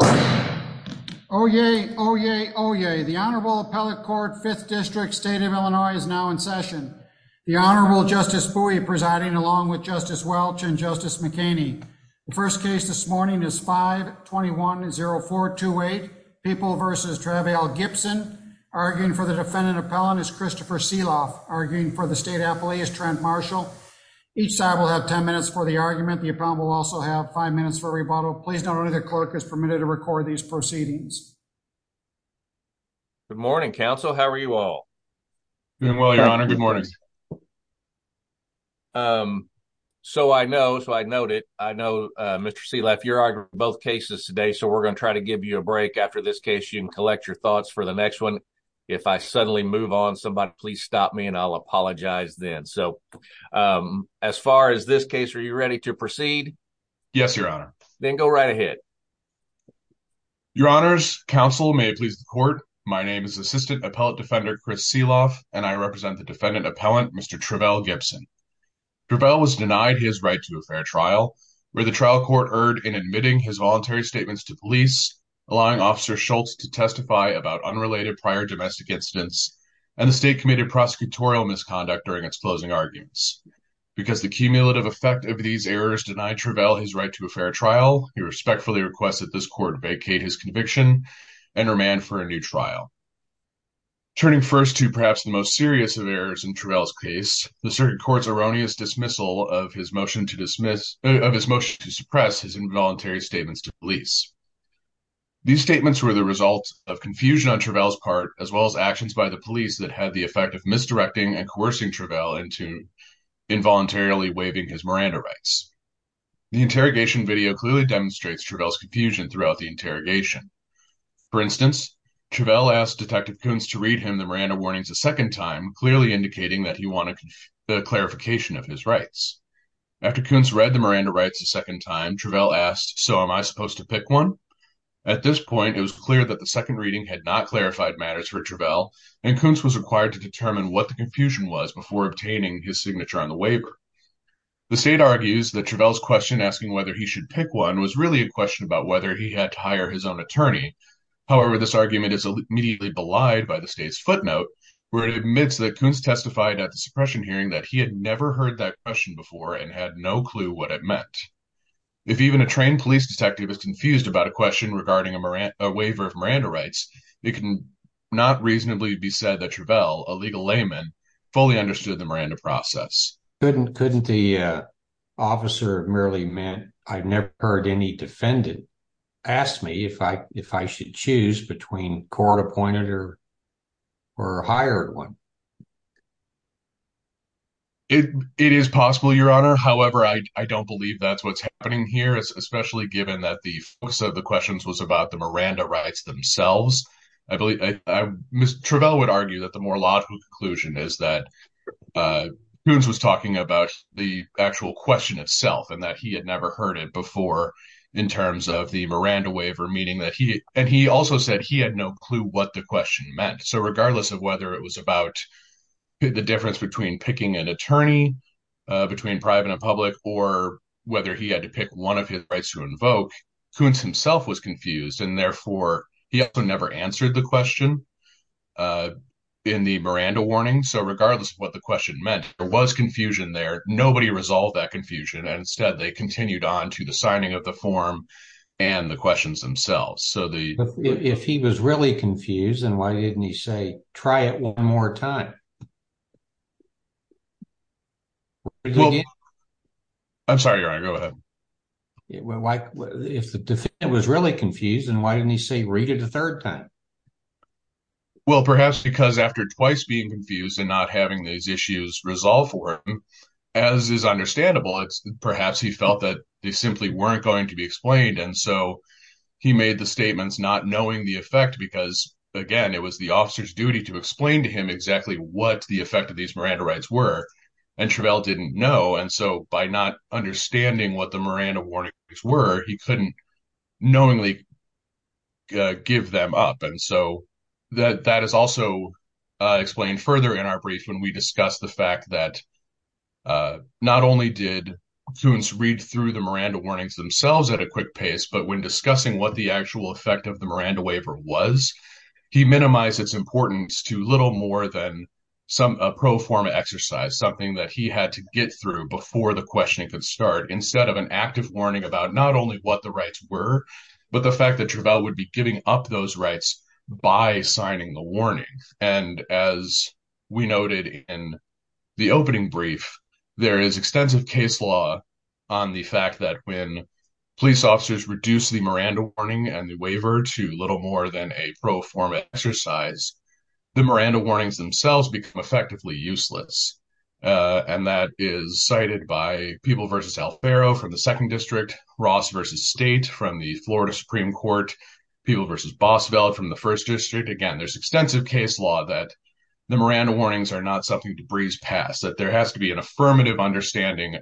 Oyez, oyez, oyez. The Honorable Appellate Court, 5th District, State of Illinois, is now in session. The Honorable Justice Bowie presiding along with Justice Welch and Justice McKinney. The first case this morning is 5-210428, People v. Travail Gibson. Arguing for the defendant appellant is Christopher Seeloff. Arguing for the state appellee is Trent Marshall. Each side will have 10 minutes for the argument. The appellant will also have 5 minutes for rebuttal. Please note only the clerk is permitted to record these proceedings. Good morning, counsel. How are you all? Doing well, Your Honor. Good morning. So I know, so I noted, I know Mr. Seeloff, you're arguing for both cases today, so we're going to try to give you a break after this case. You can collect your thoughts for the next one. If I suddenly move on, somebody please stop me and I'll apologize then. So as far as this case, are you ready to proceed? Yes, Your Honor. Then go right ahead. Your Honors, counsel, may it please the court, my name is Assistant Appellant Defender Chris Seeloff, and I represent the defendant appellant, Mr. Travail Gibson. Travail was denied his right to a fair trial, where the trial court erred in admitting his voluntary statements to police, allowing Officer Schultz to testify about unrelated prior domestic incidents, and the state committed prosecutorial misconduct during its closing arguments. Because the cumulative effect of these errors denied Travail his right to a fair trial, he respectfully requested this court vacate his conviction and remand for a new trial. Turning first to perhaps the most serious of errors in Travail's case, the circuit court's erroneous dismissal of his motion to suppress his involuntary statements to police. These statements were the result of confusion on Travail's part, as well as actions by the police that had the effect of misdirecting and coercing Travail into involuntarily waiving his Miranda rights. The interrogation video clearly demonstrates Travail's confusion throughout the interrogation. For instance, Travail asked Detective Kuntz to read him the Miranda warnings a second time, clearly indicating that he wanted the clarification of his rights. After Kuntz read the Miranda rights a second time, Travail asked, so am I supposed to pick one? At this point, it was clear that the second reading had not clarified matters for Travail, and Kuntz was required to determine what the confusion was before obtaining his signature on the waiver. The state argues that Travail's question, asking whether he should pick one, was really a question about whether he had to hire his own attorney. However, this argument is immediately belied by the state's footnote, where it admits that Kuntz testified at the suppression hearing that he had never heard that question before and had no clue what it meant. If even a trained police detective is confused about a question regarding a waiver of Miranda rights, it can not reasonably be said that Travail, a legal layman, fully understood the Miranda process. Couldn't the officer have merely meant, I've never heard any defendant, ask me if I should choose between court-appointed or hired one? It is possible, Your Honor. However, I don't believe that's what's happening here, especially given that the focus of the questions was about the Miranda rights themselves. Travail would argue that the more logical conclusion is that Kuntz was talking about the actual question itself and that he had never heard it before in terms of the Miranda waiver, and he also said he had no clue what the question meant. So regardless of whether it was about the difference between picking an attorney, between private and public, or whether he had to pick one of his rights to invoke, Kuntz himself was confused, and therefore he also never answered the question in the Miranda warning. So regardless of what the question meant, there was confusion there. Nobody resolved that confusion, and instead they continued on to the signing of the form and the questions themselves. If he was really confused, then why didn't he say, try it one more time? I'm sorry, Your Honor, go ahead. If the defendant was really confused, then why didn't he say, read it a third time? Well, perhaps because after twice being confused and not having these issues resolved for him, as is understandable, perhaps he felt that they simply weren't going to be explained, and so he made the statements not knowing the effect because, again, it was the officer's duty to explain to him exactly what the effect of these Miranda rights were, and Travell didn't know, and so by not understanding what the Miranda warnings were, he couldn't knowingly give them up, and so that is also explained further in our brief when we discuss the fact that not only did Kuntz read through the Miranda warnings themselves at a quick pace, but when discussing what the actual effect of the Miranda waiver was, he minimized its importance to little more than a pro forma exercise, something that he had to get through before the questioning could start, instead of an active warning about not only what the rights were, but the fact that Travell would be giving up those rights by signing the warning, and as we noted in the opening brief, there is extensive case law on the fact that when police officers reduce the Miranda warning and the waiver to little more than a pro forma exercise, the Miranda warnings themselves become effectively useless, and that is cited by People v. Alfaro from the 2nd District, Ross v. State from the Florida Supreme Court, People v. Boswell from the 1st District. Again, there's extensive case law that the Miranda warnings are not something to breeze past, that there has to be an affirmative understanding,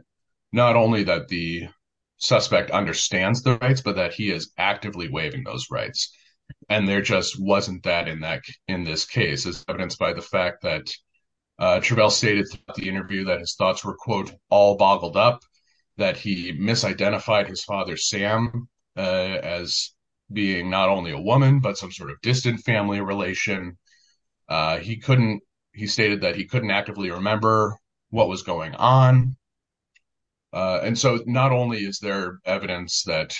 not only that the suspect understands the rights, but that he is actively waiving those rights, and there just wasn't that in this case, as evidenced by the fact that Travell stated throughout the interview that his thoughts were, quote, all boggled up, that he misidentified his father, Sam, as being not only a woman, but some sort of distant family relation. He stated that he couldn't actively remember what was going on. And so not only is there evidence that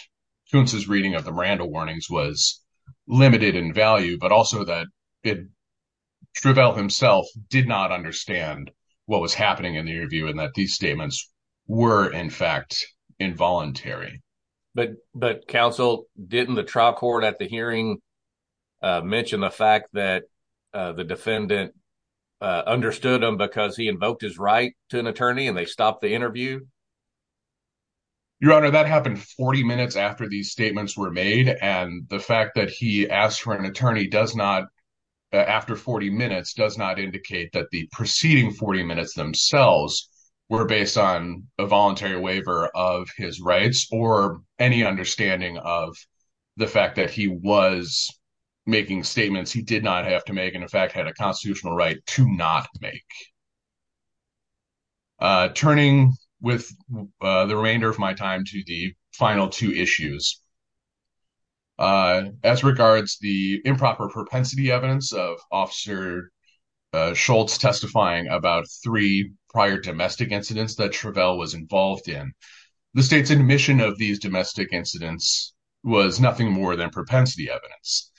Kuntz's reading of the Miranda warnings was limited in value, but also that Travell himself did not understand what was happening in the interview and that these statements were, in fact, involuntary. But Counsel, didn't the trial court at the hearing mention the fact that the defendant understood him because he invoked his right to an attorney and they stopped the interview? Your Honor, that happened 40 minutes after these statements were made, and the fact that he asked for an attorney after 40 minutes does not indicate that the preceding 40 minutes themselves were based on a voluntary waiver of his rights or any understanding of the fact that he was making statements he did not have to make and, in fact, had a constitutional right to not make. Turning with the remainder of my time to the final two issues, as regards the improper propensity evidence of Officer Schultz testifying about three prior domestic incidents that Travell was involved in, the state's admission of these domestic incidents was nothing more than propensity evidence.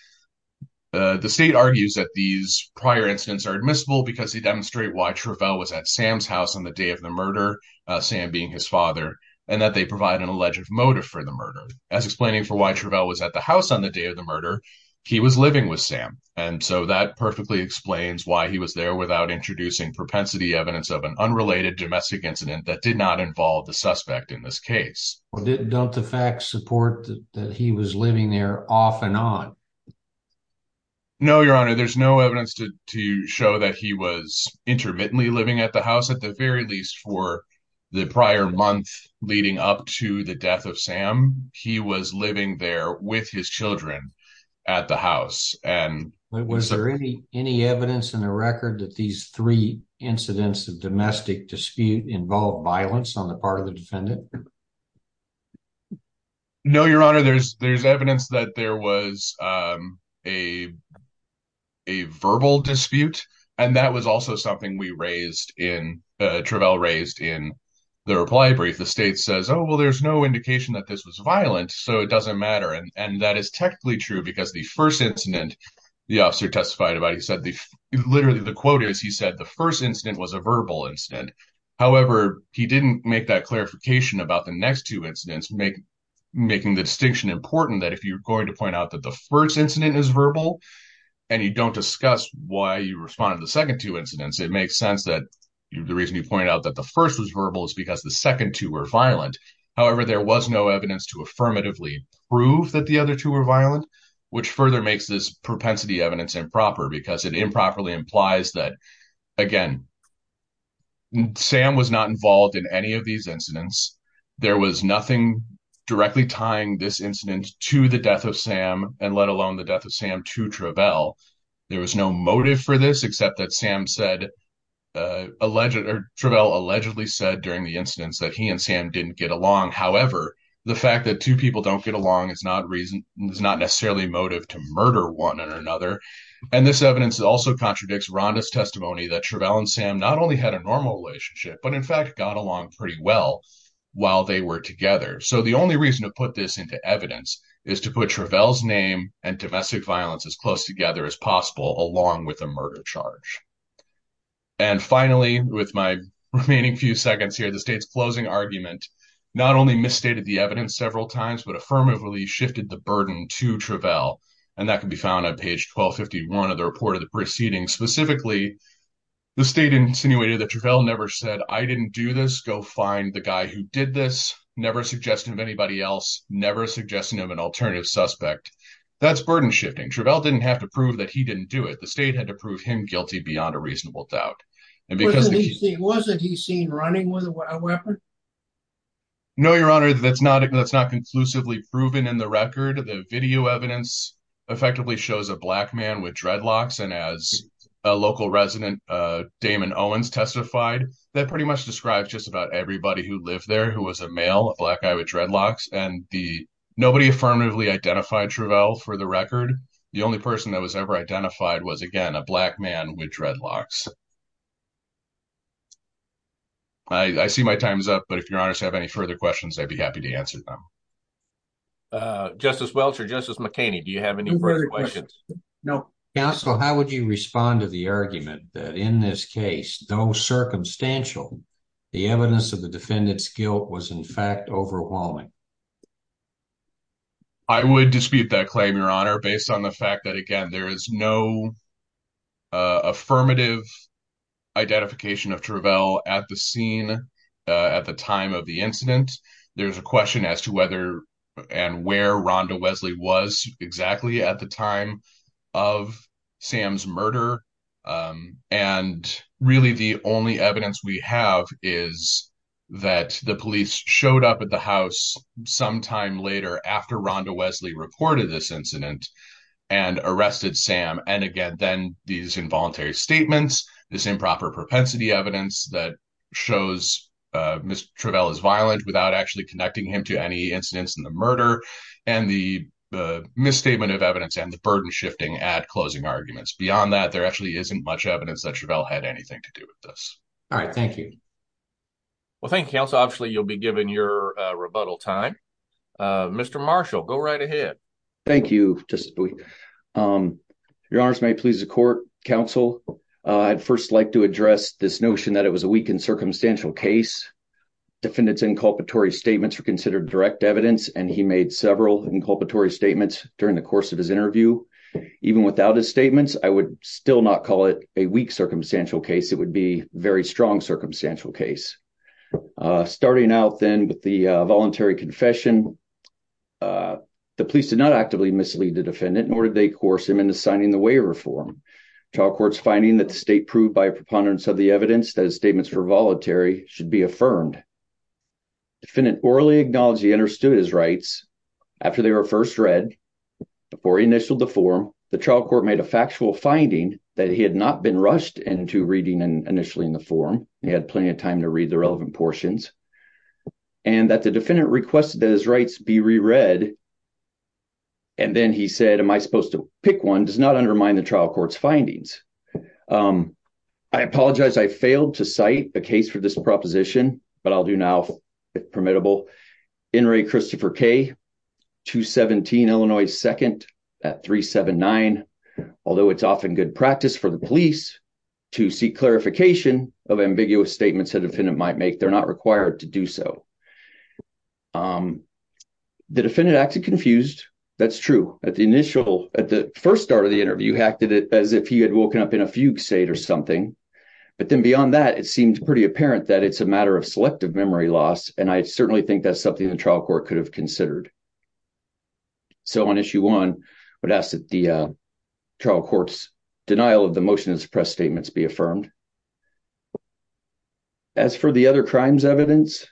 The state argues that these prior incidents are admissible because they demonstrate why Travell was at Sam's house on the day of the murder, Sam being his father, and that they provide an alleged motive for the murder. As explaining for why Travell was at the house on the day of the murder, he was living with Sam, and so that perfectly explains why he was there without introducing propensity evidence of an unrelated domestic incident that did not involve the suspect in this case. Don't the facts support that he was living there off and on? No, Your Honor, there's no evidence to show that he was intermittently living at the house, at the very least for the prior month leading up to the death of Sam. He was living there with his children at the house. Was there any evidence in the record that these three incidents of domestic dispute involved violence on the part of the defendant? No, Your Honor, there's evidence that there was a verbal dispute, and that was also something Travell raised in the reply brief. The state says, oh, well, there's no indication that this was violent, so it doesn't matter, and that is technically true because the first incident the officer testified about, he said, literally the quote is he said the first incident was a verbal incident. However, he didn't make that clarification about the next two incidents, making the distinction important that if you're going to point out that the first incident is verbal and you don't discuss why you responded to the second two incidents, it makes sense that the reason you pointed out that the first was verbal is because the second two were violent. However, there was no evidence to affirmatively prove that the other two were violent, which further makes this propensity evidence improper because it improperly implies that, again, Sam was not involved in any of these incidents. There was nothing directly tying this incident to the death of Sam and let alone the death of Sam to Travell. There was no motive for this except that Sam said alleged or Travell allegedly said during the incidents that he and Sam didn't get along. However, the fact that two people don't get along is not reason is not necessarily motive to murder one another. And this evidence also contradicts Rhonda's testimony that Travell and Sam not only had a normal relationship, but in fact, got along pretty well while they were together. So the only reason to put this into evidence is to put Travell's name and domestic violence as close together as possible, along with a murder charge. And finally, with my remaining few seconds here, the state's closing argument not only misstated the evidence several times, but affirmatively shifted the burden to Travell. And that can be found on page 1251 of the report of the proceedings. Specifically, the state insinuated that Travell never said, I didn't do this. Go find the guy who did this. Never suggested of anybody else. Never suggested of an alternative suspect. That's burden shifting. Travell didn't have to prove that he didn't do it. The state had to prove him guilty beyond a reasonable doubt. Wasn't he seen running with a weapon? No, Your Honor. That's not it. That's not conclusively proven in the record. The video evidence effectively shows a black man with dreadlocks. And as a local resident, Damon Owens, testified, that pretty much describes just about everybody who lived there, who was a male, a black guy with dreadlocks. And nobody affirmatively identified Travell for the record. The only person that was ever identified was, again, a black man with dreadlocks. I see my time is up, but if Your Honors have any further questions, I'd be happy to answer them. Justice Welch or Justice McKinney, do you have any further questions? No. Counsel, how would you respond to the argument that in this case, though circumstantial, the evidence of the defendant's guilt was, in fact, overwhelming? I would dispute that claim, Your Honor, based on the fact that, again, there is no affirmative identification of Travell at the scene at the time of the incident. There's a question as to whether and where Rhonda Wesley was exactly at the time of Sam's murder. And really, the only evidence we have is that the police showed up at the house sometime later, after Rhonda Wesley reported this incident, and arrested Sam. And again, then these involuntary statements, this improper propensity evidence, that shows Mr. Travell is violent without actually connecting him to any incidents in the murder, and the misstatement of evidence and the burden shifting at closing arguments. Beyond that, there actually isn't much evidence that Travell had anything to do with this. All right, thank you. Well, thank you, Counsel. Obviously, you'll be given your rebuttal time. Mr. Marshall, go right ahead. Thank you. Your Honors, may it please the Court, Counsel, I'd first like to address this notion that it was a weak and circumstantial case. Defendant's inculpatory statements were considered direct evidence, and he made several inculpatory statements during the course of his interview. Even without his statements, I would still not call it a weak circumstantial case. It would be a very strong circumstantial case. Starting out, then, with the voluntary confession, the police did not actively mislead the defendant, nor did they coerce him into signing the waiver form. The trial court's finding that the state proved by preponderance of the evidence that his statements were voluntary should be affirmed. The defendant orally acknowledged he understood his rights. After they were first read, before he initialed the form, the trial court made a factual finding that he had not been rushed into reading initially in the form, and he had plenty of time to read the relevant portions, and that the defendant requested that his rights be reread. And then he said, am I supposed to pick one? Does not undermine the trial court's findings. I apologize. I failed to cite a case for this proposition, but I'll do now, if permittable. Inmate Christopher K., 217 Illinois 2nd at 379. Although it's often good practice for the police to seek clarification of ambiguous statements a defendant might make, they're not required to do so. The defendant acted confused. That's true. At the initial, at the first start of the interview, he acted as if he had woken up in a fugue state or something. But then beyond that, it seems pretty apparent that it's a matter of selective memory loss, and I certainly think that's something the trial court could have considered. So on issue one, I would ask that the trial court's denial of the motion of his press statements be affirmed. As for the other crimes evidence,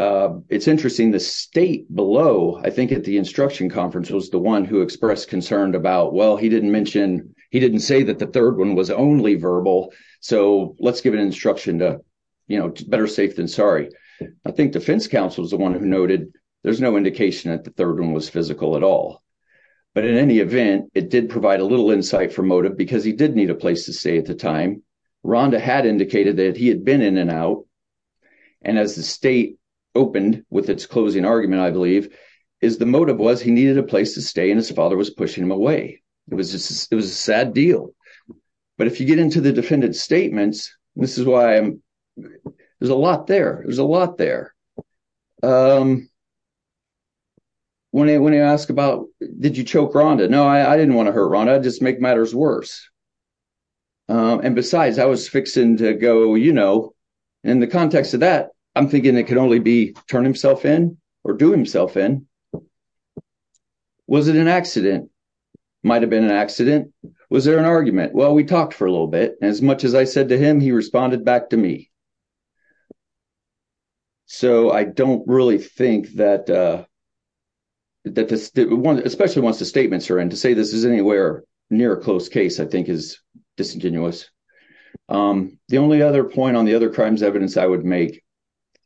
it's interesting. The state below, I think, at the instruction conference was the one who expressed concern about, well, he didn't mention, he didn't say that the third one was only verbal, so let's give an instruction to, you know, better safe than sorry. I think defense counsel is the one who noted there's no indication that the third one was physical at all. But in any event, it did provide a little insight for motive because he did need a place to stay at the time. Rhonda had indicated that he had been in and out. And as the state opened with its closing argument, I believe, is the motive was he needed a place to stay, and his father was pushing him away. It was just, it was a sad deal. But if you get into the defendant's statements, this is why there's a lot there. There's a lot there. When you ask about, did you choke Rhonda? No, I didn't want to hurt Rhonda, just make matters worse. And besides, I was fixing to go, you know, in the context of that, I'm thinking it could only be turn himself in or do himself in. Was it an accident? Might have been an accident. Was there an argument? Well, we talked for a little bit. As much as I said to him, he responded back to me. So I don't really think that, especially once the statements are in, to say this is anywhere near a close case, I think, is disingenuous. The only other point on the other crimes evidence I would make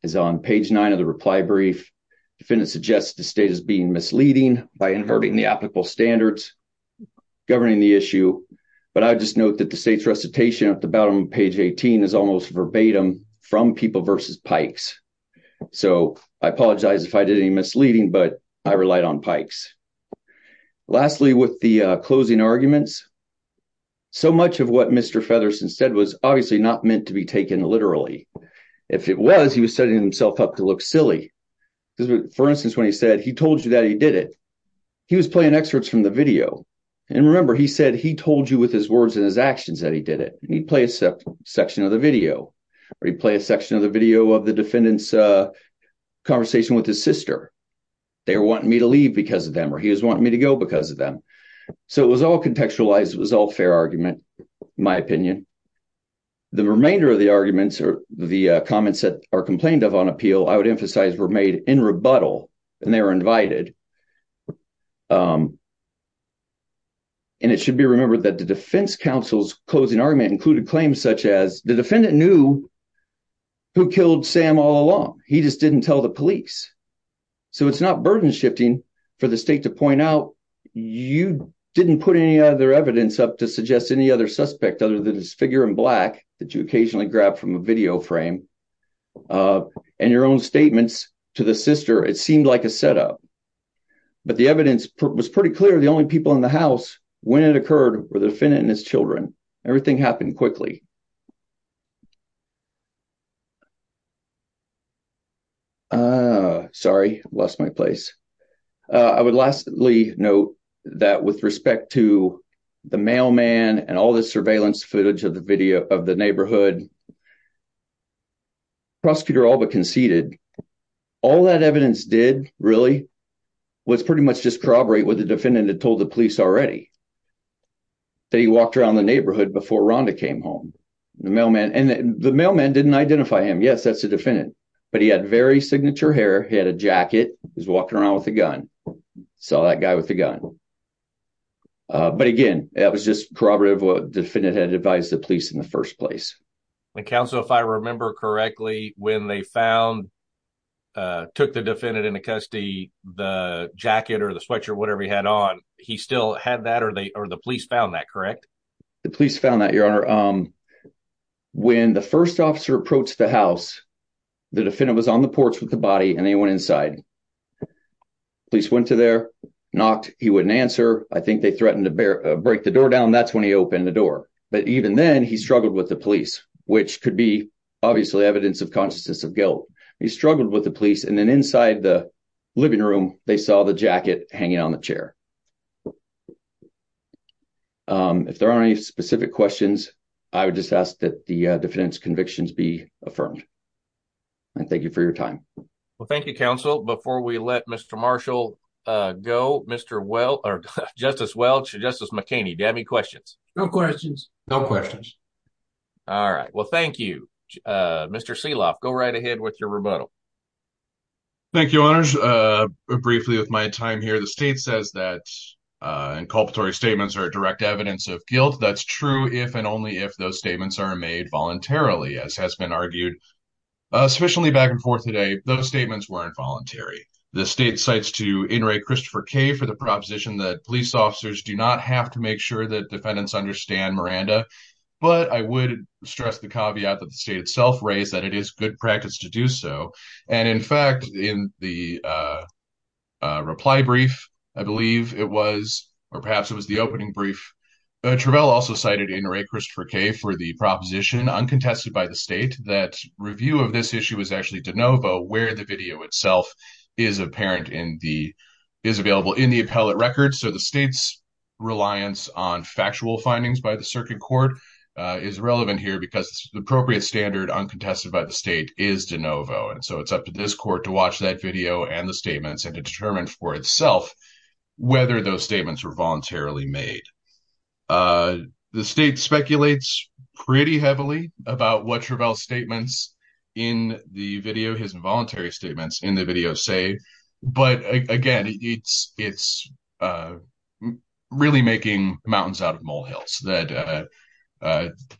is on page 9 of the reply brief. Defendant suggests the state is being misleading by inverting the applicable standards governing the issue. But I would just note that the state's recitation at the bottom of page 18 is almost verbatim from people versus Pikes. So I apologize if I did any misleading, but I relied on Pikes. Lastly, with the closing arguments, so much of what Mr. Featherston said was obviously not meant to be taken literally. If it was, he was setting himself up to look silly. For instance, when he said, he told you that he did it, he was playing excerpts from the video. And remember, he said he told you with his words and his actions that he did it. He'd play a section of the video. Or he'd play a section of the video of the defendant's conversation with his sister. They were wanting me to leave because of them, or he was wanting me to go because of them. So it was all contextualized. It was all fair argument, in my opinion. The remainder of the arguments or the comments that are complained of on appeal, I would emphasize, were made in rebuttal. And they were invited. And it should be remembered that the defense counsel's closing argument included claims such as the defendant knew who killed Sam all along. He just didn't tell the police. So it's not burden shifting for the state to point out. You didn't put any other evidence up to suggest any other suspect other than this figure in black that you occasionally grab from a video frame. And your own statements to the sister, it seemed like a setup. But the evidence was pretty clear. The only people in the house, when it occurred, were the defendant and his children. Everything happened quickly. Sorry, lost my place. I would lastly note that with respect to the mailman and all the surveillance footage of the neighborhood, the prosecutor all but conceded. All that evidence did, really, was pretty much just corroborate what the defendant had told the police already. That he walked around the neighborhood before Rhonda came home. And the mailman didn't identify him. Yes, that's the defendant. But he had very signature hair. He had a jacket. He was walking around with a gun. Saw that guy with a gun. But again, that was just corroborative of what the defendant had advised the police in the first place. Counsel, if I remember correctly, when they found, took the defendant into custody, the jacket or the sweatshirt, whatever he had on, he still had that or the police found that, correct? The police found that, Your Honor. When the first officer approached the house, the defendant was on the porch with the body and they went inside. Police went to there, knocked. He wouldn't answer. I think they threatened to break the door down. That's when he opened the door. But even then, he struggled with the police, which could be obviously evidence of consciousness of guilt. He struggled with the police. If there are any specific questions, I would just ask that the defendant's convictions be affirmed. And thank you for your time. Well, thank you, counsel. Before we let Mr. Marshall go, Mr. Welch, Justice Welch, Justice McKinney, do you have any questions? No questions. No questions. All right. Well, thank you, Mr. Seeloff. Go right ahead with your rebuttal. Thank you, Your Honor. I want to finish briefly with my time here. The state says that inculpatory statements are direct evidence of guilt. That's true if and only if those statements are made voluntarily, as has been argued sufficiently back and forth today. Those statements weren't voluntary. The state cites to Inouye Christopher Kaye for the proposition that police officers do not have to make sure that defendants understand Miranda. But I would stress the caveat that the state itself raised, that it is good practice to do so. And, in fact, in the reply brief, I believe it was, or perhaps it was the opening brief, Travell also cited Inouye Christopher Kaye for the proposition, uncontested by the state, that review of this issue is actually de novo where the video itself is apparent in the, is available in the appellate record. So the state's reliance on factual findings by the circuit court is relevant here because the appropriate standard, uncontested by the state, is de novo. And so it's up to this court to watch that video and the statements and to determine for itself whether those statements were voluntarily made. The state speculates pretty heavily about what Travell's statements in the video, his involuntary statements in the video say. But, again, it's really making mountains out of molehills.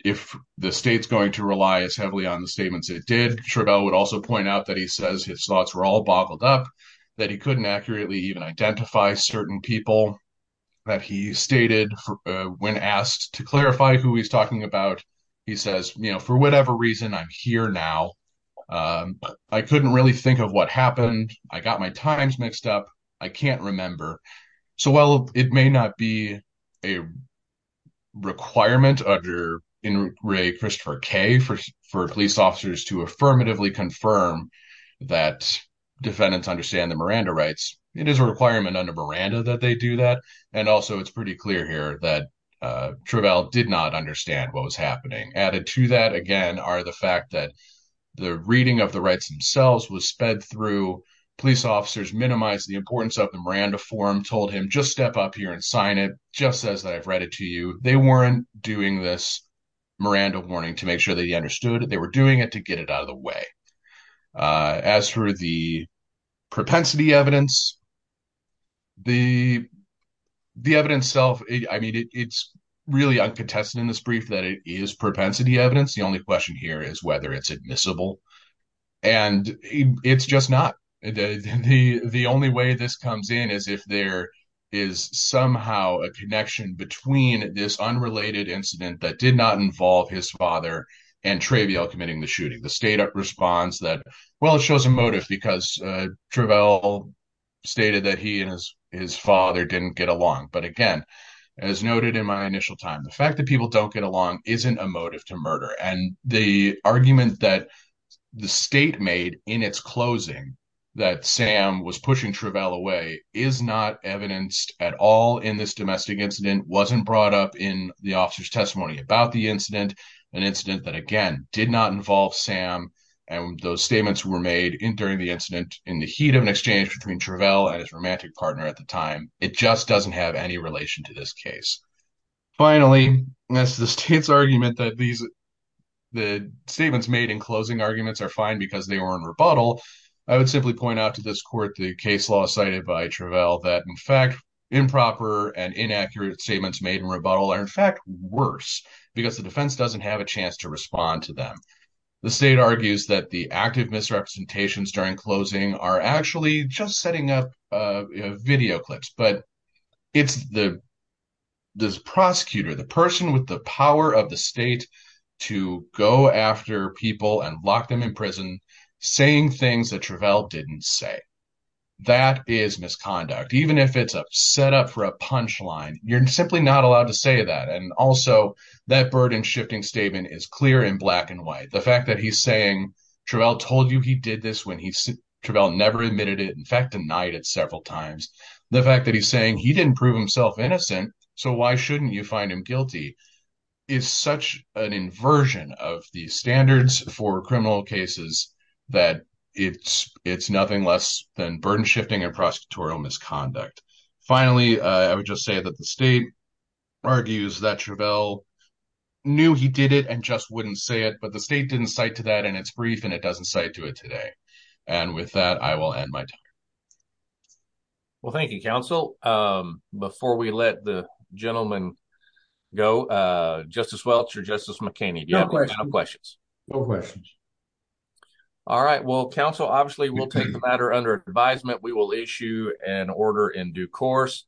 If the state's going to rely as heavily on the statements it did, Travell would also point out that he says his thoughts were all boggled up, that he couldn't accurately even identify certain people that he stated when asked to clarify who he's talking about. He says, you know, for whatever reason, I'm here now. I couldn't really think of what happened. I got my times mixed up. I can't remember. So while it may not be a requirement under In Re Christopher K for police officers to affirmatively confirm that defendants understand the Miranda rights, it is a requirement under Miranda that they do that. And also it's pretty clear here that Travell did not understand what was happening. Added to that, again, are the fact that the reading of the rights themselves was sped through. Police officers minimized the importance of the Miranda forum, told him just step up here and sign it. Jeff says that I've read it to you. They weren't doing this Miranda warning to make sure that he understood it. They were doing it to get it out of the way. As for the propensity evidence. The the evidence self, I mean, it's really uncontested in this brief that it is propensity evidence. The only question here is whether it's admissible. And it's just not the only way this comes in is if there is somehow a connection between this unrelated incident that did not involve his father and Travell committing the shooting. The state responds that, well, it shows a motive because Travell stated that he and his father didn't get along. But again, as noted in my initial time, the fact that people don't get along isn't a motive to murder. And the argument that the state made in its closing that Sam was pushing Travell away is not evidenced at all in this domestic incident wasn't brought up in the officer's testimony about the incident. An incident that, again, did not involve Sam. And those statements were made in during the incident in the heat of an exchange between Travell and his romantic partner at the time. It just doesn't have any relation to this case. Finally, as the state's argument that the statements made in closing arguments are fine because they were in rebuttal, I would simply point out to this court the case law cited by Travell that, in fact, improper and inaccurate statements made in rebuttal are, in fact, worse because the defense doesn't have a chance to respond to them. The state argues that the active misrepresentations during closing are actually just setting up video clips. But it's the prosecutor, the person with the power of the state to go after people and lock them in prison saying things that Travell didn't say. That is misconduct. Even if it's a setup for a punchline, you're simply not allowed to say that. And also, that burden-shifting statement is clear in black and white. The fact that he's saying Travell told you he did this when Travell never admitted it, in fact, denied it several times. The fact that he's saying he didn't prove himself innocent, so why shouldn't you find him guilty is such an inversion of the standards for criminal cases that it's nothing less than burden-shifting and prosecutorial misconduct. Finally, I would just say that the state argues that Travell knew he did it and just wouldn't say it. But the state didn't cite to that in its brief, and it doesn't cite to it today. And with that, I will end my talk. Well, thank you, counsel. Before we let the gentleman go, Justice Welch or Justice McKinney, do you have any final questions? No questions. All right. Well, counsel, obviously, we'll take the matter under advisement. We will issue an order in due course.